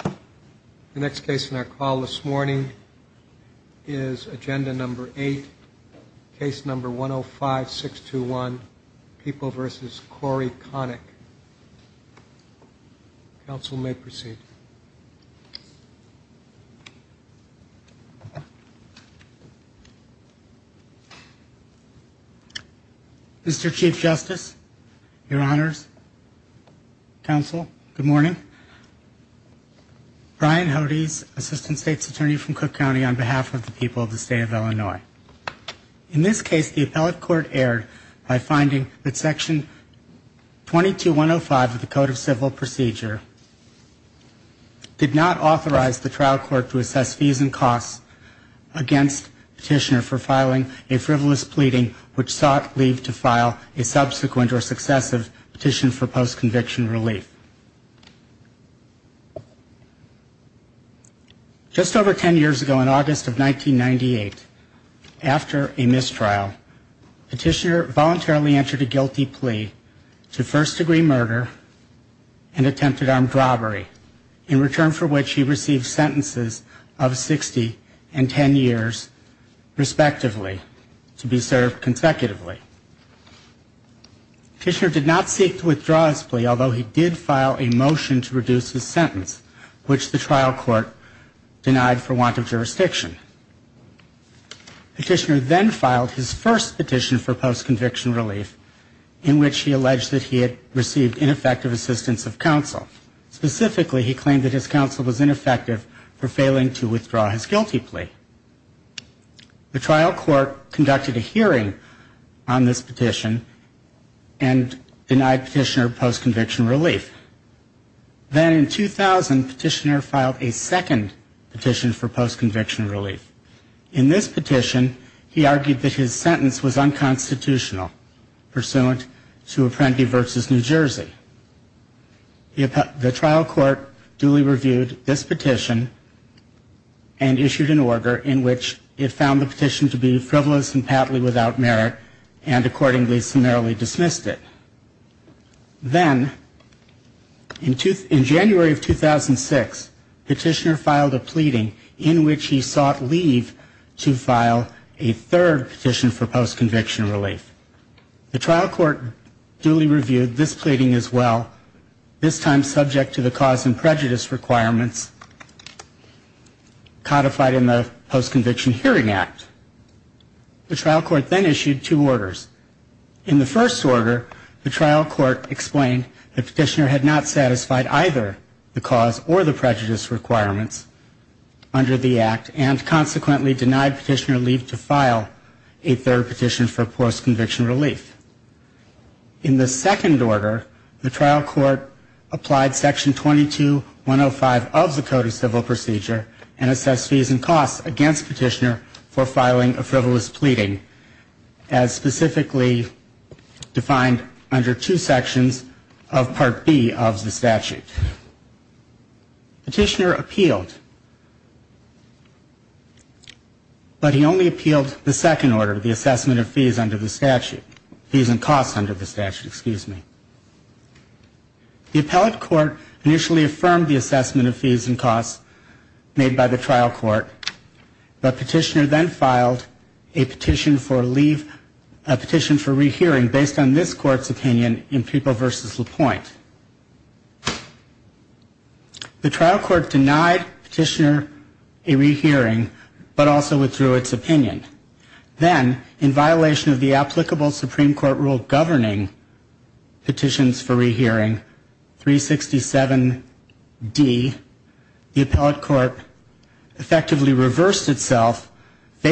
The next case in our call this morning is agenda number 8, case number 105-621, People v. Corey Conick. Council may proceed. Mr. Chief Justice, your honors, counsel, good morning. Brian Hodes, assistant state's attorney from Cook County on behalf of the people of the state of Illinois. In this case, the appellate court erred by finding that section 22-105 of the code of civil procedure did not authorize the trial court to assess fees and costs against petitioner for filing a frivolous pleading which sought leave to file a subsequent or successive petition for post-conviction relief. Just over ten years ago, in August of 1998, after a mistrial, petitioner voluntarily entered a guilty plea to first-degree murder and attempted armed robbery, in return for which he received sentences of 60 and 10 years, respectively, to be served consecutively. Petitioner did not seek to withdraw his plea, although he did file a motion to reduce his sentence, which the trial court denied for want of jurisdiction. Petitioner then filed his first petition for post-conviction relief, in which he alleged that he had received ineffective assistance of counsel. Specifically, he claimed that his counsel was ineffective for failing to withdraw his guilty plea. The trial court conducted a hearing on this petition and denied petitioner post-conviction relief. Then in 2000, petitioner filed a second petition for post-conviction relief. In this petition, he argued that his sentence was unconstitutional, pursuant to Apprenti v. New Jersey. The trial court duly reviewed this petition and issued an appeals order in which it found the petition to be frivolous and patently without merit, and accordingly summarily dismissed it. Then, in January of 2006, petitioner filed a pleading in which he sought leave to file a third petition for post-conviction relief. The trial court duly reviewed this pleading as well, this time subject to the Post-Conviction Hearing Act. The trial court then issued two orders. In the first order, the trial court explained that petitioner had not satisfied either the cause or the prejudice requirements under the act, and consequently denied petitioner leave to file a third petition for post-conviction relief. In the second order, the petitioner appealed, but he only appealed the second order, the assessment of fees under the statute. Fees and costs under the statute, excuse me. The appellate court initially affirmed the assessment of fees and costs made by the trial court, and in the third order, the trial court affirmed the assessment of fees and costs made by the petitioner, but petitioner then filed a petition for leave, a petition for rehearing based on this court's opinion in Prepo v. LaPointe. The trial court denied petitioner a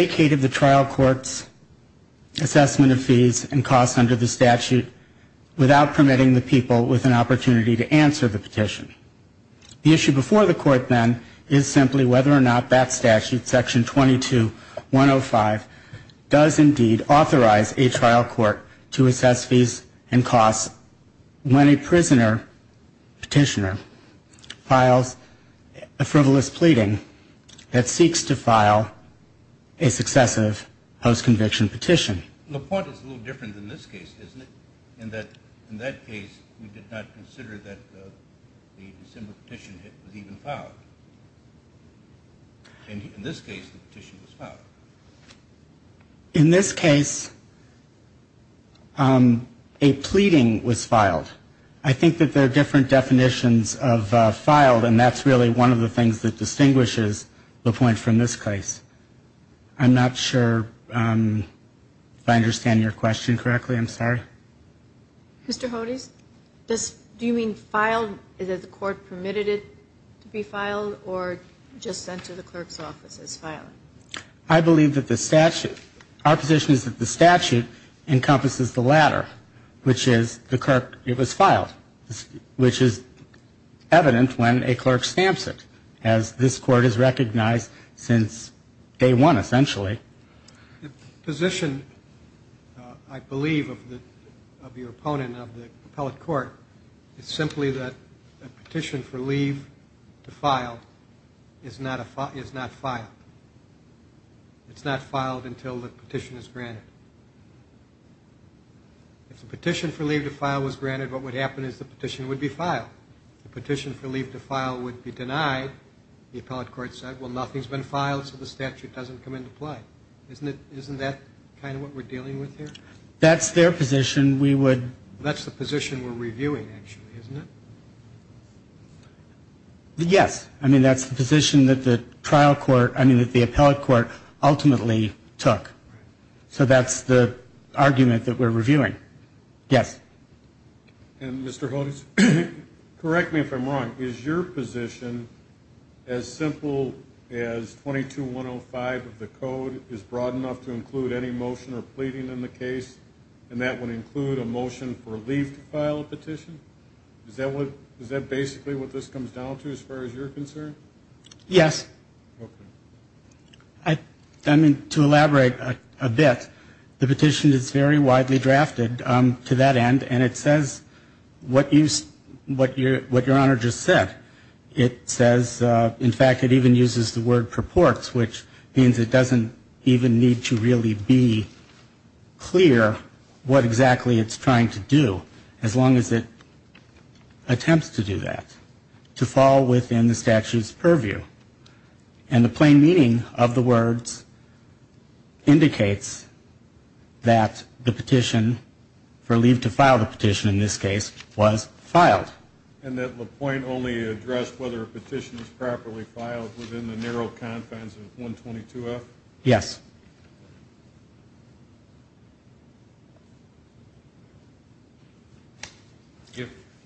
trial court's assessment of fees and costs under the statute, without permitting the people with an opportunity to answer the petition. The issue before the court then is simply whether or not that statute, Section 22-105, does indeed authorize a trial court to assess fees and costs when a prisoner petitioner files a frivolous pleading that seeks to file a successive post-conviction petition. In this case, a pleading was filed. I think that there are different definitions of filed, and that's really one of the things that distinguishes the two. the point from this case. I'm not sure if I understand your question correctly. I'm sorry. Mr. Hodes, do you mean filed, is it the court permitted it to be filed, or just sent to the clerk's office as filed? I believe that the statute, our position is that the statute encompasses the latter, which is the clerk, it was filed, which is evident when a clerk stamps it, as this court has recognized since day one, essentially. The position, I believe, of your opponent, of the appellate court, is simply that a petition for leave to file is not filed. It's not filed until the petition is denied, the appellate court said, well, nothing's been filed, so the statute doesn't come into play. Isn't that kind of what we're dealing with here? That's the position we're reviewing, actually, isn't it? Yes. I mean, that's the position that the trial court, I mean, that the appellate court ultimately took. So that's the argument that we're reviewing. Yes. And, Mr. Hodes, correct me if I'm wrong, is your position as simple as 22-105 of the code is broad enough to include any motion or pleading in the case, and that would include a motion for leave to file a petition? Is that basically what this comes down to, as far as you're concerned? Yes. I mean, to elaborate a bit, the petition is very widely drafted to that end, and it says what your Honor just said. It says, in fact, it even uses the word purports, which means it doesn't even need to really be clear what exactly it's trying to do, as long as it attempts to do that, to fall within the statute's purview. And the plain meaning of the words indicates that the petition for leave to file the petition, in this case, was filed. And that LaPointe only addressed whether a petition was properly filed within the narrow confines of 122F? Yes.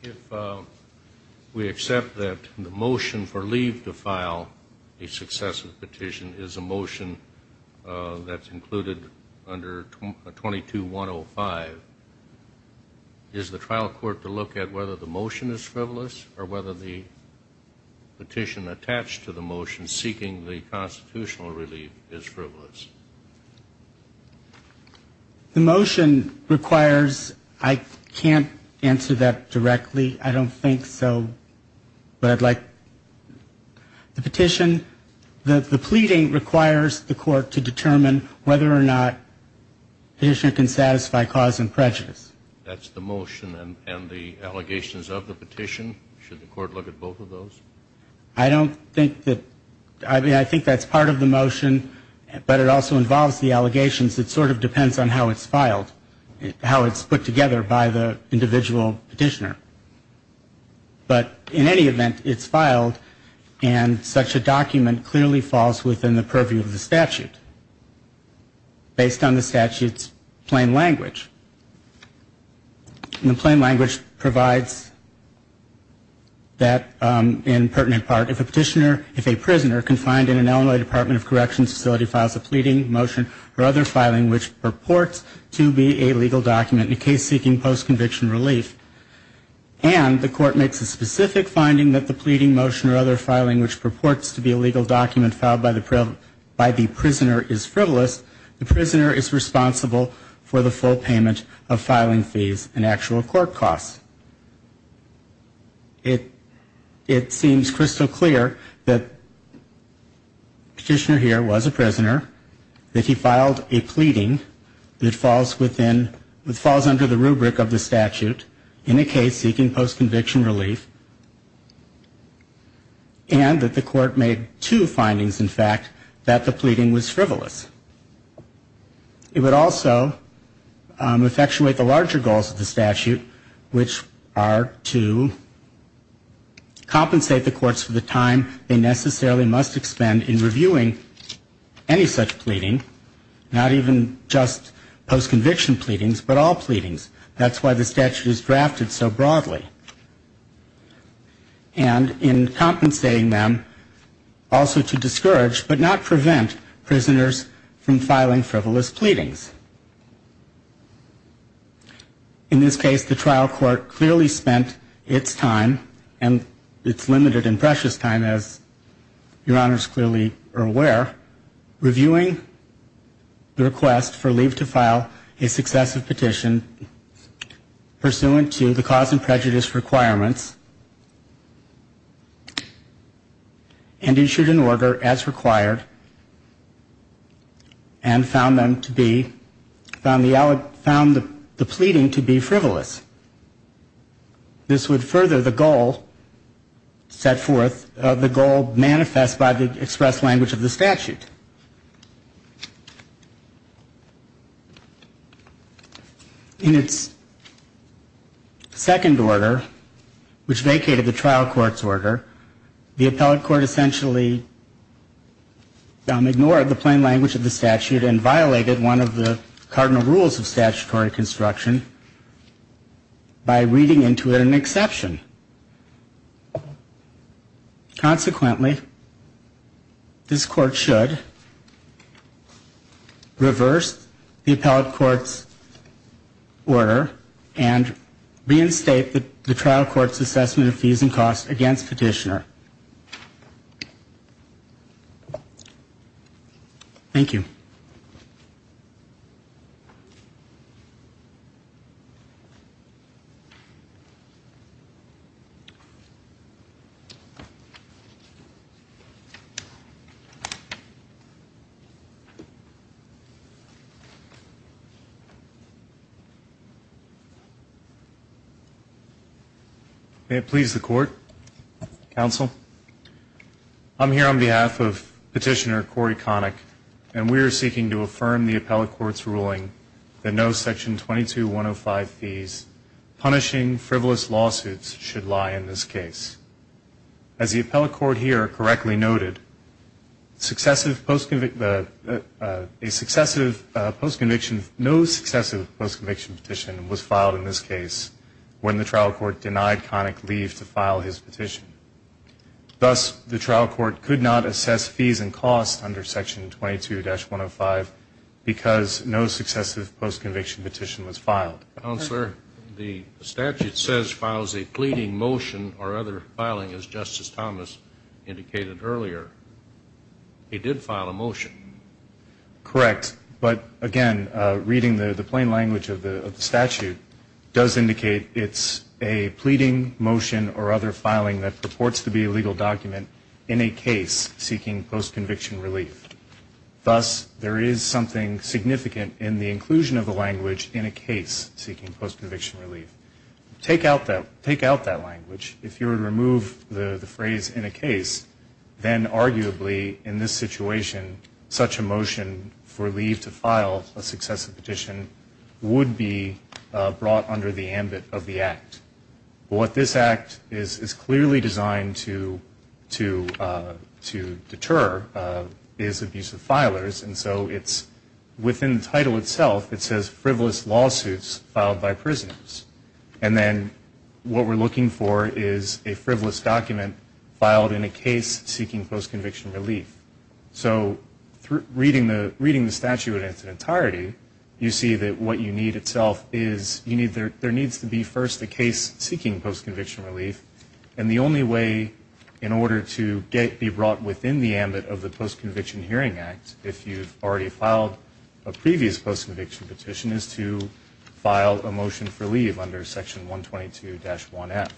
If we accept that the motion for leave to file a successive petition is a motion that's included under 22-105, is the trial court to look at whether the motion is frivolous, or whether the petition attached to the motion seeking the constitutional relief is frivolous? The motion requires, I can't answer that directly, I don't think so, but I'd like, the petition, the pleading requires the court to determine whether or not the petitioner can satisfy cause and prejudice. That's the motion and the allegations of the petition? Should the court look at both of those? I don't think that, I mean, I think that's part of the motion, but it also involves the allegations. It sort of depends on how it's filed, how it's put together by the individual petitioner. But in any event, it's filed, and such a document clearly falls within the purview of the statute, based on the statute's plain language. And the plain language provides that, in pertinent part, if a petitioner, if a prisoner confined in an Illinois Department of Corrections facility files a pleading, motion, or other filing which purports to be a legal document in a case seeking post-conviction relief, and the court makes a specific finding that the pleading, motion, or other filing which purports to be a legal document filed by the prisoner is frivolous, the prisoner is responsible for the full payment of filing such a petition. The petitioner is responsible for the full payment of fees and actual court costs. It seems crystal clear that the petitioner here was a prisoner, that he filed a pleading that falls within, that falls under the rubric of the statute in a case seeking post-conviction relief, and that the court made two findings, in fact, that the pleading was frivolous. It would also effectuate the larger goals of the statute, which are to compensate the courts for the time they necessarily must expend in reviewing any such pleading, not even just post-conviction pleadings, but all pleadings. That's why the statute is drafted so broadly. And in compensating them, also to discourage, but not prevent, prisoners from filing a pleading. In this case, the trial court clearly spent its time, and its limited and precious time, as Your Honors clearly are aware, reviewing the request for leave to file a successive petition, pursuant to the cause and prejudice requirements, and issued an order, as required, that the petitioner be exempted from the penalty. The petitioner is exempted from the penalty. The petitioner is exempted from the penalty. And found them to be, found the, found the pleading to be frivolous. This would further the goal set forth, the goal manifest by the express language of the statute. In its second order, which vacated the trial court's order, the appellate court essentially ignored the plain language of the statute. And violated one of the cardinal rules of statutory construction, by reading into it an exception. Consequently, this court should reverse the appellate court's order, and reinstate the trial court's assessment of fees and costs against petitioner. Thank you. May it please the court, counsel. I'm here on behalf of Petitioner Corey Connick, and we are seeking an appeal to the court to affirm the appellate court's ruling that no section 22-105 fees, punishing frivolous lawsuits, should lie in this case. As the appellate court here correctly noted, successive post-conviction, a successive post-conviction, no successive post-conviction petition was filed in this case, when the trial court denied Connick leave to file his petition. Thus, the trial court could not assess fees and costs under section 22-105. Because no successive post-conviction petition was filed. Counselor, the statute says files a pleading motion or other filing, as Justice Thomas indicated earlier. He did file a motion. Correct. But again, reading the plain language of the statute does indicate it's a pleading motion or other filing that purports to be a legal document in a case seeking post-conviction relief. Thus, there is something significant in the inclusion of the language in a case seeking post-conviction relief. Take out that language. If you were to remove the phrase in a case, then arguably in this situation, such a motion for leave to file a successive petition would be brought under the ambit of the Act. But what this Act is clearly designed to do is to remove the phrase in a case seeking post-conviction relief. And the only way to deter is abuse of filers. And so it's within the title itself, it says frivolous lawsuits filed by prisoners. And then what we're looking for is a frivolous document filed in a case seeking post-conviction relief. So reading the statute in its entirety, you see that what you need itself is, there needs to be first a case seeking post-conviction relief. And the only way in order to be brought within the ambit of the Post-Conviction Hearing Act, if you've already filed a previous post-conviction petition, is to file a motion for leave under Section 122-1F.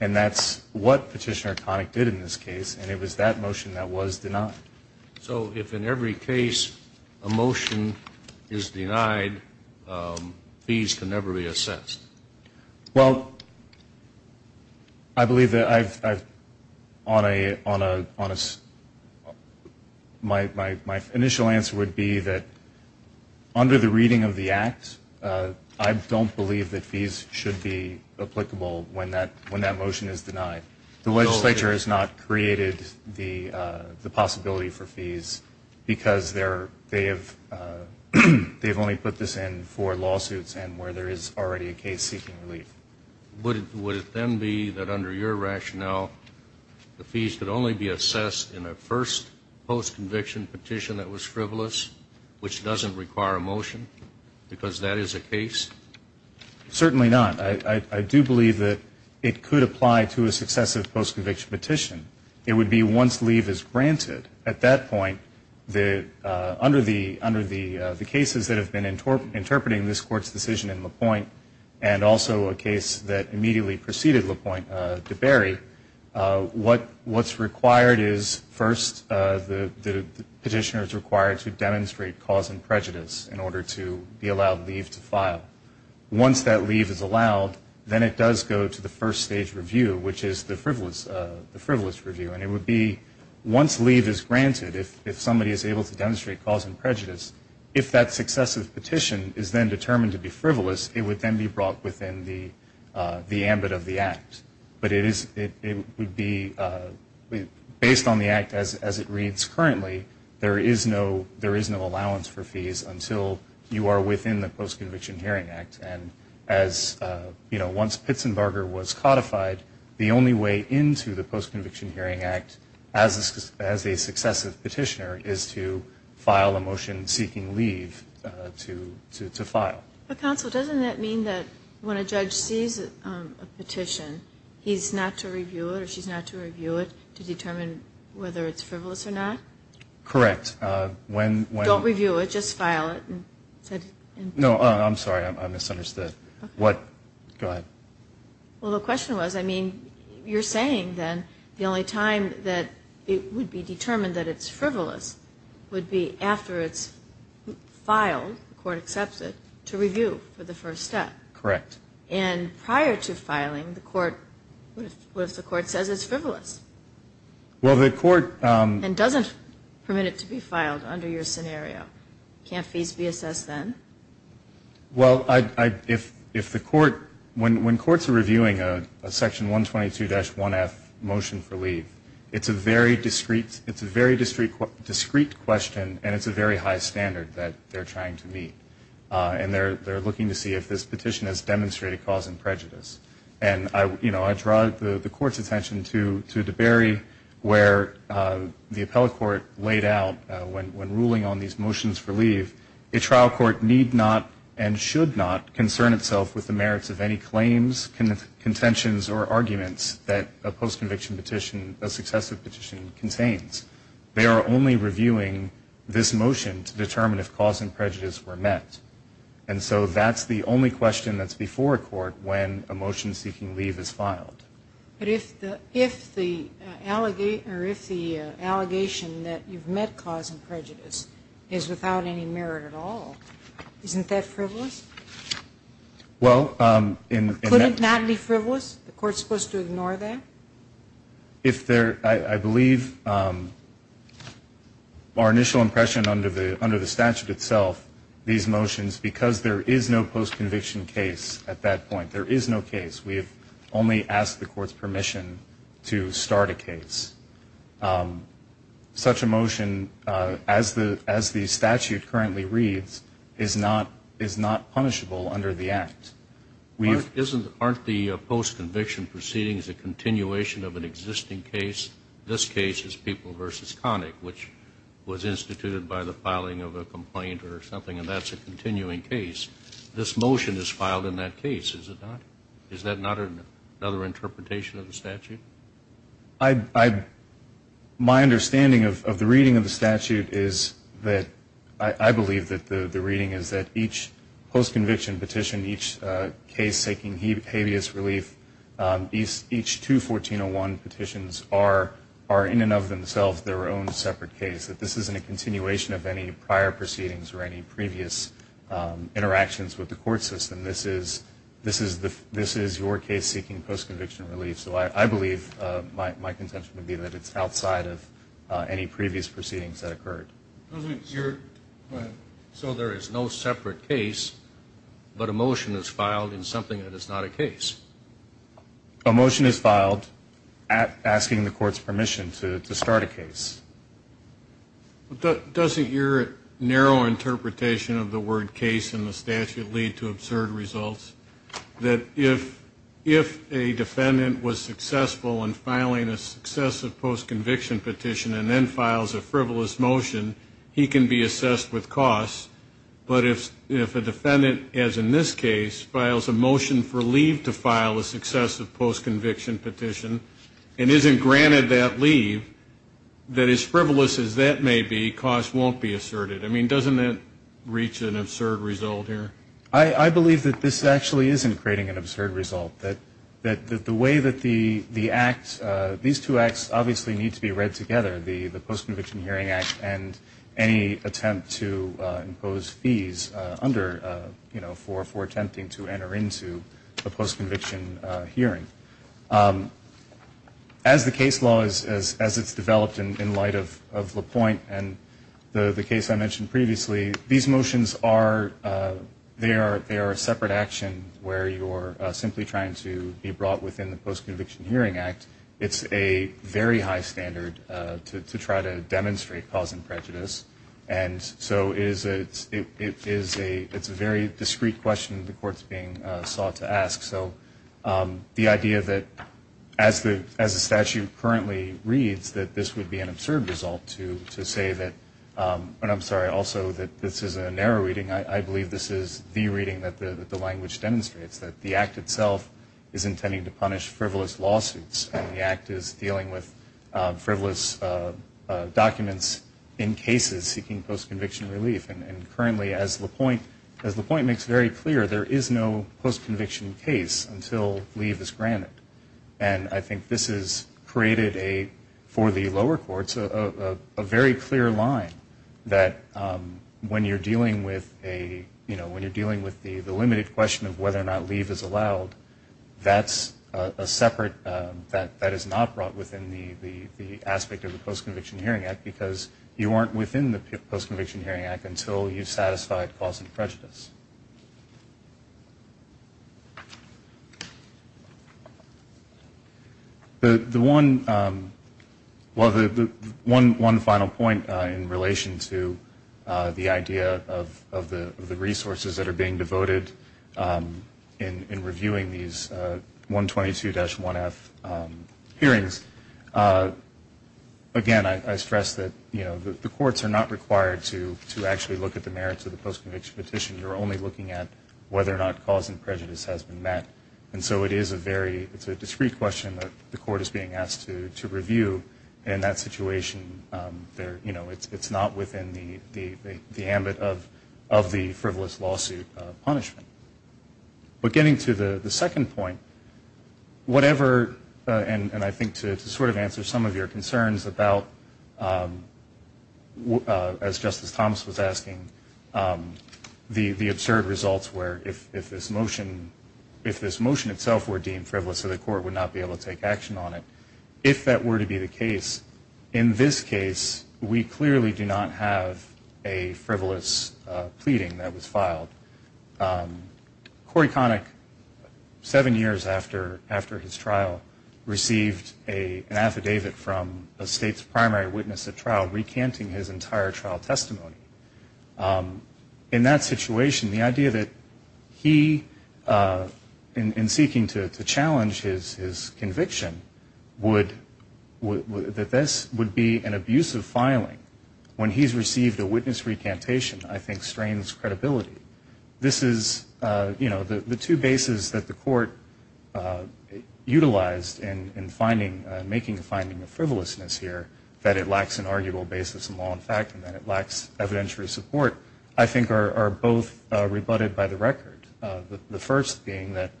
And that's what Petitioner Connick did in this case, and it was that motion that was denied. So if in every case a motion is denied, fees can never be assessed? Well, I believe that I've, on a, my initial answer would be that under the reading of the Act, I don't believe that fees should be applicable when that motion is denied. The legislature has not created the possibility for fees because they have only put this in for case seeking relief. Would it then be that under your rationale, the fees could only be assessed in a first post-conviction petition that was frivolous, which doesn't require a motion, because that is a case? Certainly not. I do believe that it could apply to a successive post-conviction petition. It would be once leave is granted. At that point, under the Act, and also a case that immediately preceded LaPointe de Berry, what's required is first the petitioner is required to demonstrate cause and prejudice in order to be allowed leave to file. Once that leave is allowed, then it does go to the first stage review, which is the frivolous review. And it would be once leave is granted, if somebody is able to demonstrate cause and prejudice, if that successive petition is then determined to be frivolous, it would then be brought within the ambit of the Act. But it would be based on the Act as it reads currently, there is no allowance for fees until you are within the Post-Conviction Hearing Act. And as, you know, once Pitzenbarger was codified, the only way into the Post-Conviction Hearing Act as a successive petitioner is to file a motion seeking leave to file. But Counsel, doesn't that mean that when a judge sees a petition, he's not to review it or she's not to review it to determine whether it's frivolous or not? Correct. When... Don't review it. Just file it. No, I'm sorry. I misunderstood. Go ahead. Well, the question was, I mean, you're saying then the only time that it would be determined that it's frivolous would be after it's filed, and the court accepts it, to review for the first step. Correct. And prior to filing, the court, what if the court says it's frivolous? Well, the court... And doesn't permit it to be filed under your scenario. Can't fees be assessed then? Well, if the court, when courts are reviewing a Section 122-1F motion for leave, it's a very discreet question and it's a very high standard that they're trying to meet. And they're looking to see if this petition has demonstrated cause and prejudice. And, you know, I draw the court's attention to DeBerry, where the appellate court laid out when ruling on these motions for leave, a trial court need not and should not concern itself with the merits of any claims, contentions, or arguments that a post-conviction petition, a successive petition, contains. They are only reviewing this motion to determine if cause and prejudice were met. And so that's the only question that's before a court when a motion seeking leave is filed. But if the allegation that you've met cause and prejudice is without any merit at all, isn't that frivolous? Well, in... Could it not be frivolous? The court's supposed to ignore that? If there... I believe our initial impression under the statute itself, these motions, because there is no post-conviction case at that point, there is no case, we've only asked the court's permission to start a case. Such a motion, as the statute currently reads, is not punishable under the Act. Aren't the post-conviction proceedings a continuation of an existing case? This case is People v. Connick, which was instituted by the filing of a complaint or something, and that's a continuing case. This motion is filed in that case, is it not? Is that not another interpretation of the statute? My understanding of the reading of the statute is that, I believe that the reading is that each post-conviction petition, each case seeking habeas relief, each two 1401 petitions are in and of themselves their own separate case. That this isn't a continuation of any prior proceedings or any previous interactions with the court system. This is your case seeking post-conviction relief. So I believe my contention would be that it's outside of any previous proceedings that occurred. So there is no separate case, but a motion is filed in something that is not a case? A motion is filed asking the court's permission to start a case. Doesn't your narrow interpretation of the word case in the statute lead to absurd results? That if a defendant was successful in filing a successive post-conviction petition and then files a frivolous motion, he can be assessed with costs. But if a defendant, as in this case, files a motion for leave to file a successive post-conviction petition, and isn't granted that leave, that as frivolous as that may be, costs won't be asserted. I mean, doesn't that reach an absurd result here? I believe that this actually isn't creating an absurd result. That the way that the act is written, the way that the act, these two acts obviously need to be read together, the Post-Conviction Hearing Act and any attempt to impose fees under, you know, for attempting to enter into a post-conviction hearing. As the case law, as it's developed in light of LaPointe and the case I mentioned previously, these motions are, they are a separate action where you're simply trying to be brought within the Post-Conviction Hearing Act, and you're trying to impose a fee. And it's a very high standard to try to demonstrate cause and prejudice. And so it is a, it's a very discreet question the Court's being sought to ask. So the idea that as the statute currently reads, that this would be an absurd result to say that, and I'm sorry, also that this is a narrow reading. I believe this is the reading that the Act is dealing with frivolous documents in cases seeking post-conviction relief. And currently as LaPointe, as LaPointe makes very clear, there is no post-conviction case until leave is granted. And I think this has created a, for the lower courts, a very clear line that when you're dealing with a, you know, when you're dealing with the limited question of whether or not leave is allowed, that's a separate, that is not brought within the aspect of the Post-Conviction Hearing Act, because you aren't within the Post-Conviction Hearing Act until you've satisfied cause and prejudice. The one, well, the one final point in relation to the idea of the resources that are being devoted for the reviewing these 122-1F hearings, again, I stress that, you know, the courts are not required to actually look at the merits of the post-conviction petition. You're only looking at whether or not cause and prejudice has been met. And so it is a very, it's a discrete question that the Court is being asked to review. And in that situation, you know, it's not within the ambit of the frivolous lawsuit punishment. But getting to the second point, whatever, and I think to sort of answer some of your concerns about, as Justice Thomas was asking, the absurd results where if this motion, if this motion itself were deemed frivolous, so the Court would not be able to take action on it. If that were to be the case, in this case, we clearly do not have a case where a jury conic, seven years after his trial, received an affidavit from a state's primary witness at trial recanting his entire trial testimony. In that situation, the idea that he, in seeking to challenge his conviction, that this would be an abusive filing when he's received a witness recantation, I think, strains credibility. This is, you know, the two bases that the Court utilized in finding, making a finding of frivolousness here, that it lacks an arguable basis in law and fact, and that it lacks evidentiary support, I think are both rebutted by the record. The first being that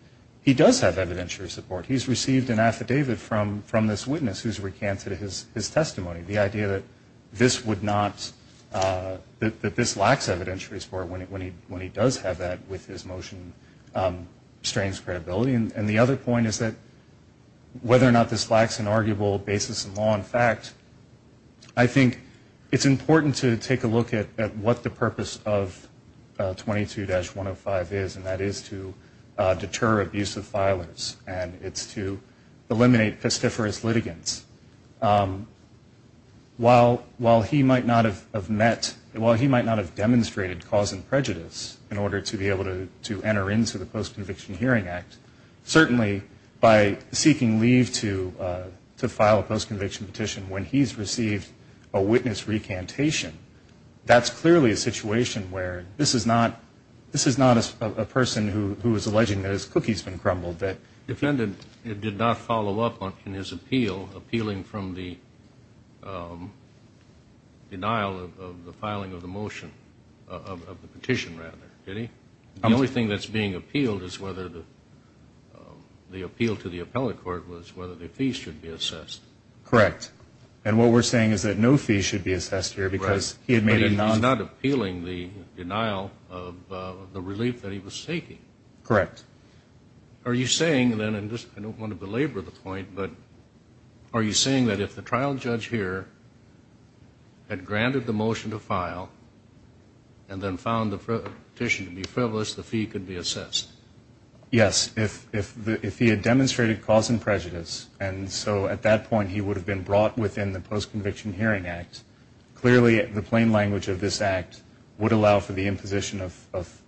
he does have evidentiary support. He's received an affidavit from this witness who's recanted his testimony. The idea that this would not, that this lacks evidentiary support when he does have that with his motion strains credibility. And the other point is that whether or not this lacks an arguable basis in law and fact, I think it's important to take a look at what the purpose of 22-105 is, and that is to deter abusive filings, and it's to eliminate pestiferous litigants. While he might not have met, while he might not have demonstrated cause and effect of a post-conviction hearing act, certainly by seeking leave to file a post-conviction petition when he's received a witness recantation, that's clearly a situation where this is not, this is not a person who is alleging that his cookie's been crumbled, that... Defendant did not follow up on his appeal, appealing from the denial of the filing of the motion, of the petition, rather. Did he? The only thing that's being appealed is whether the, the appeal to the appellate court was whether the fees should be assessed. Correct. And what we're saying is that no fees should be assessed here because he had made a non... But he's not appealing the denial of the relief that he was seeking. Correct. Are you saying then, and I don't want to belabor the point, but are you saying that if the trial judge here had granted the motion to file and then found the petition to be frivolous, the fee could be assessed? Yes. If he had demonstrated cause and prejudice, and so at that point he would have been brought within the post-conviction hearing act, clearly the plain language of this act would allow for the imposition of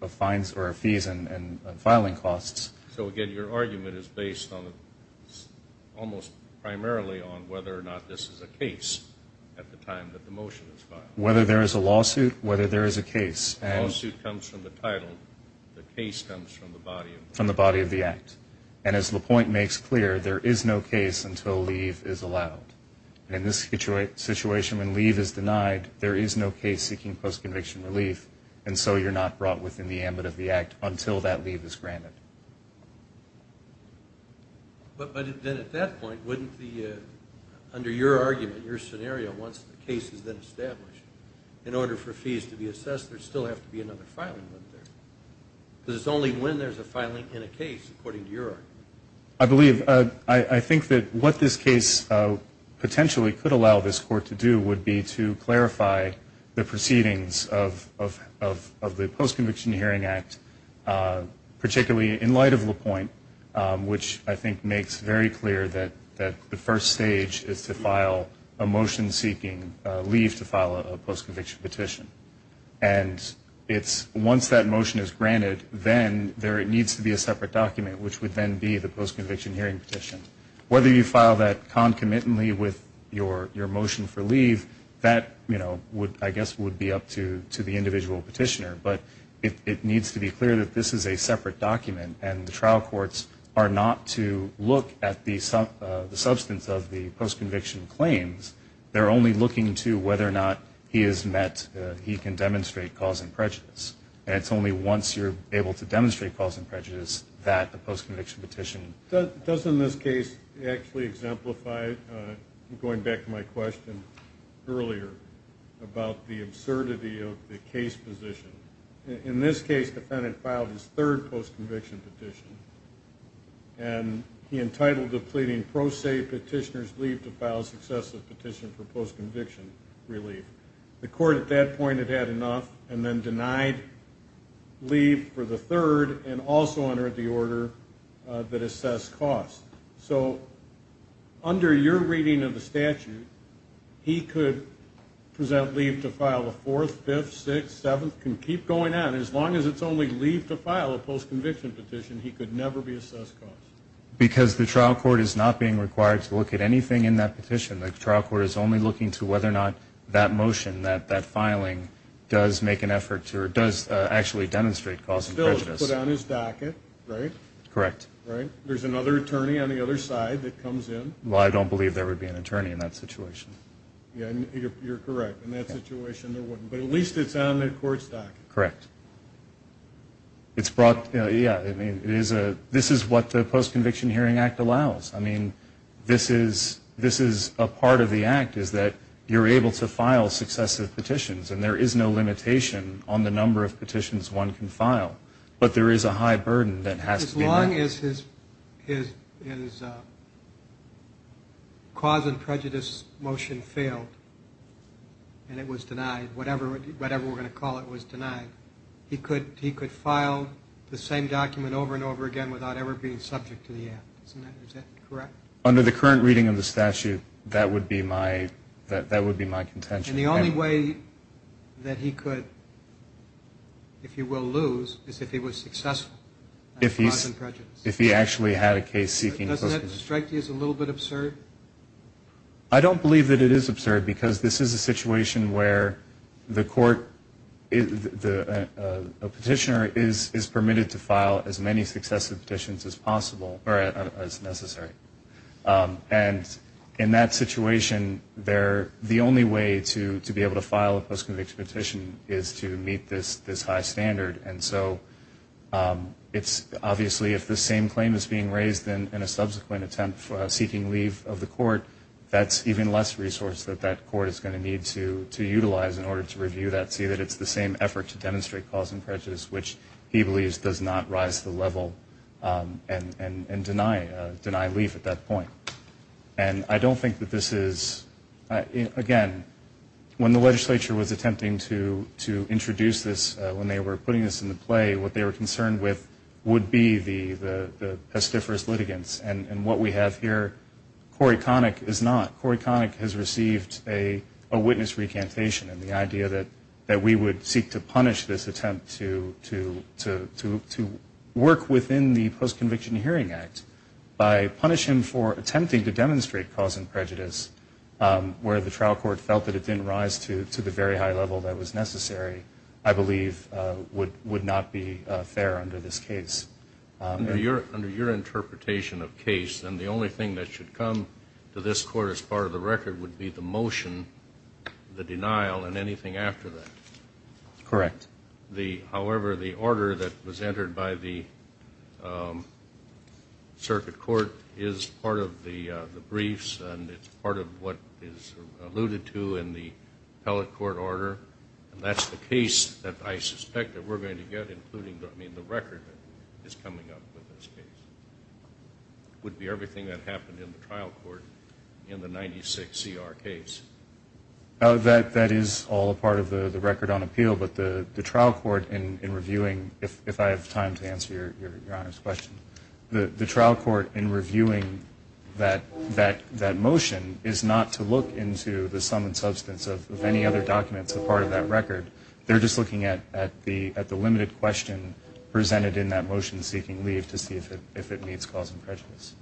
fines or fees and filing costs. So again, your argument is based on, almost primarily on whether or not this is a case at the time that the motion is filed. Whether there is a lawsuit, whether there is a case. The lawsuit comes from the title, the case comes from the body of the act. And as LaPointe makes clear, there is no case until leave is allowed. And in this situation when leave is denied, there is no case seeking post-conviction relief, and so you're not brought within the ambit of the act until that leave is granted. But then at that point, wouldn't the, under your argument, your scenario, once the case is then established, in order for fees to be assessed, there'd still have to be another filing. Because it's only when there's a filing in a case, according to your argument. I believe, I think that what this case potentially could allow this court to do would be to clarify the proceedings of the post-conviction hearing act, particularly in light of LaPointe, which I think makes very clear that the first stage is to file a motion seeking leave to file a post-conviction petition. And it's, once that motion is granted, then there needs to be a separate document, which would then be the post-conviction hearing petition. Whether you file that concomitantly with your motion for leave, that, you know, I guess would be up to the individual petitioner. But it needs to be clear that this is a separate document, and the trial courts are not to look at the substance of the post-conviction claims. They're only looking to whether or not he is met, he can demonstrate cause and prejudice. And it's only once you're able to demonstrate cause and prejudice that you can file a post-conviction petition. Doesn't this case actually exemplify, going back to my question earlier, about the absurdity of the case position? In this case, the defendant filed his third post-conviction petition, and he entitled the pleading pro se petitioner's leave to file a successive petition for post-conviction relief. The court at that point had had enough, and then denied leave for the third, and also entered the order that assessed cost. So under your reading of the statute, he could present leave to file a fourth, fifth, sixth, seventh, can keep going on. As long as it's only leave to file a post-conviction petition, he could never be assessed cost. Because the trial court is not being required to look at anything in that petition. The trial court is only looking to assess whether or not that motion, that filing, does make an effort to, or does actually demonstrate cause and prejudice. It's still put on his docket, right? Correct. There's another attorney on the other side that comes in. Well, I don't believe there would be an attorney in that situation. Yeah, you're correct. In that situation, there wouldn't. But at least it's on the court's docket. Correct. This is what the Post-Conviction Hearing Act allows. I mean, this is a part of the Act, is that you're able to file successive petitions, and there is no limitation on the number of petitions one can file. But there is a high burden that has to be met. If the petition failed, and it was denied, whatever we're going to call it was denied, he could file the same document over and over again without ever being subject to the Act. Is that correct? Under the current reading of the statute, that would be my contention. And the only way that he could, if you will, lose is if he was successful. Doesn't that strike you as a little bit absurd? I don't believe that it is absurd, because this is a situation where the court, a petitioner, is permitted to file as many successive petitions as necessary. And in that situation, the only way to be able to file a post-conviction petition is to meet this high standard. And so it's obviously, if the same claim is being raised in a subsequent petition, it's going to be the same claim. If the same claim is being raised in a subsequent attempt seeking leave of the court, that's even less resource that that court is going to need to utilize in order to review that, see that it's the same effort to demonstrate cause and prejudice, which he believes does not rise to the level and deny leave at that point. And I don't think that this is, again, when the legislature was attempting to introduce this, when they were putting this into play, what they were concerned with would be the pestiferous litigants. And what we have here, Corey Connick is not. Corey Connick has received a witness recantation. And the idea that we would seek to punish this attempt to work within the Post-Conviction Hearing Act by punishing for attempting to demonstrate cause and prejudice where the trial court felt that it didn't rise to the very high level that was fair under this case. Under your interpretation of case, then the only thing that should come to this court as part of the record would be the motion, the denial, and anything after that. Correct. However, the order that was entered by the circuit court is part of the briefs, and it's part of what is alluded to in the appellate court order. And that's the case that I suspect that we're going to get, including, I mean, the record that is coming up with this case. It would be everything that happened in the trial court in the 96CR case. That is all a part of the record on appeal, but the trial court in reviewing, if I have time to answer your Honor's question, the trial court in reviewing that motion is not to look into the sum and substance of any other document that was submitted. It's a part of that record. They're just looking at the limited question presented in that motion seeking leave to see if it meets cause and prejudice.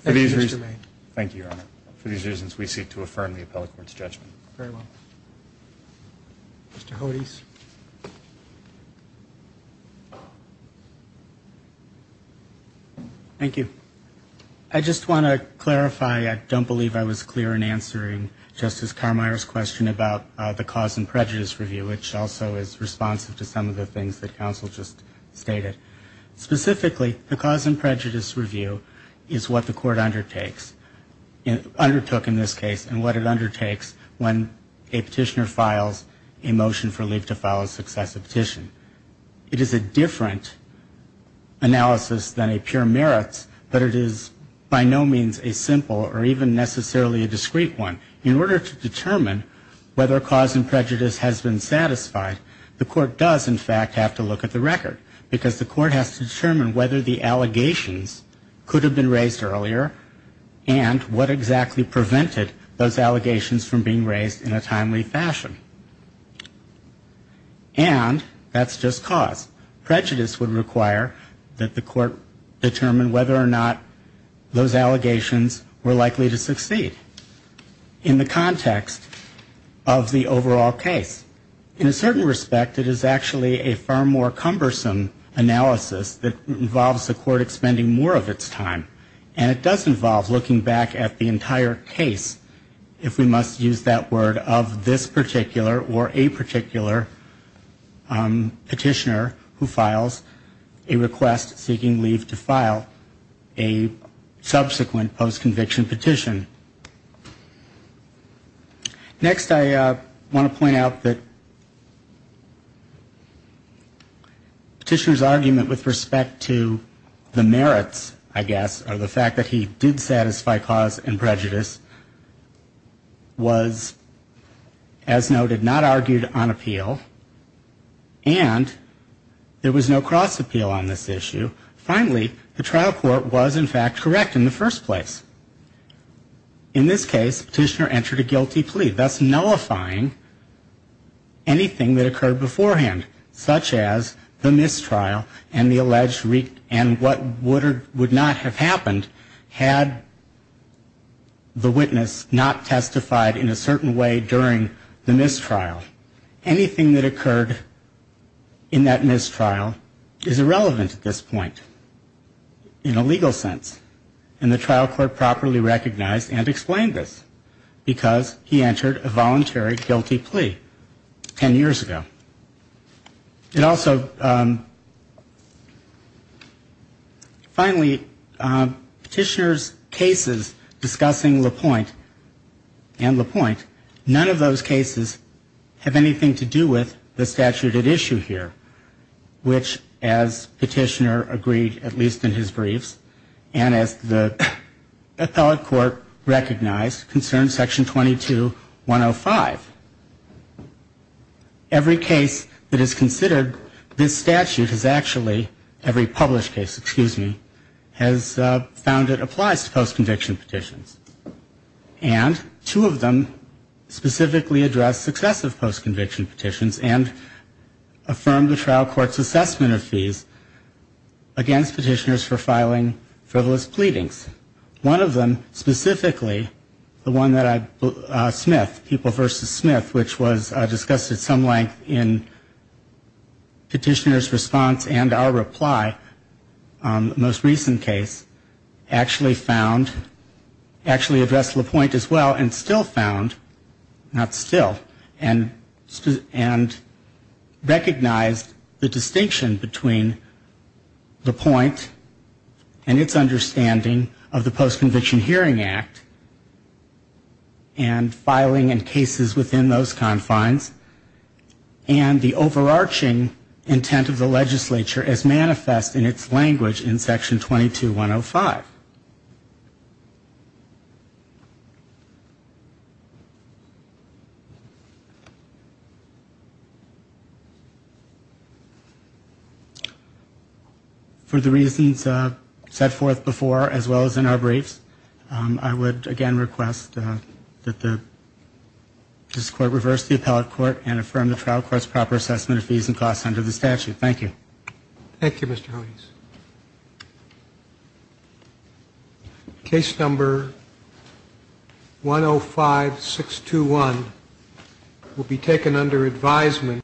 Thank you, Your Honor. For these reasons, we seek to affirm the appellate court's judgment. Thank you. I just want to clarify, I don't believe I was clear in answering Justice Carmier's question about the cause and prejudice review, which also is responsive to some of the things that counsel just stated. Specifically, the cause and prejudice review is what the court undertakes, undertook in this case, and what it undertakes when a petitioner files a motion for leave to file a successive petition. It is a different analysis than a pure merits, but it is by no means a simple or even necessarily a discrete one. In order to determine whether cause and prejudice has been satisfied, the court does, in fact, have to look at the record, because the court has to determine whether the allegations could have been raised earlier and what exactly prevented those allegations from being raised, and that's just cause. Prejudice would require that the court determine whether or not those allegations were likely to succeed in the context of the overall case. In a certain respect, it is actually a far more cumbersome analysis that involves the court expending more of its time, and it does involve looking back at the entire case, if we must use that word, of this particular or a particular case. And it does involve the petitioner who files a request seeking leave to file a subsequent post-conviction petition. Next, I want to point out that the petitioner's argument with respect to the merits, I guess, or the fact that he did satisfy cause and prejudice, was, as noted, not argued on appeal. And there was no cross-appeal on this issue. Finally, the trial court was, in fact, correct in the first place. In this case, the petitioner entered a guilty plea, thus nullifying anything that occurred beforehand, such as the mistrial and the alleged and what would or would not have happened had the witness not testified in a certain way during the mistrial. Anything that occurred in that mistrial is irrelevant at this point, in a legal sense. And the trial court properly recognized and explained this, because he entered a voluntary guilty plea 10 years ago. It also, finally, petitioner's cases discussing LaPointe and LaPointe, none of those cases are relevant to this case. None of those cases have anything to do with the statute at issue here, which, as petitioner agreed, at least in his briefs, and as the appellate court recognized, concerns Section 22-105. Every case that is considered, this statute has actually, every published case, excuse me, has found it applies to post-conviction petitions. And affirmed the trial court's assessment of fees against petitioners for filing frivolous pleadings. One of them, specifically, the one that I, Smith, People v. Smith, which was discussed at some length in petitioner's response and our reply on the most recent case, actually found, actually addressed LaPointe as well, and still found, not still, and found that the statute was, and recognized the distinction between LaPointe and its understanding of the Post-Conviction Hearing Act, and filing in cases within those confines, and the overarching intent of the legislature as manifest in its language in Section 22-105. For the reasons set forth before, as well as in our briefs, I would again request that this court reverse the appellate court and affirm the trial court's proper assessment of fees and costs under the statute. Thank you. Thank you, Mr. Hodes. Case number 105-621 will be taken under advisement.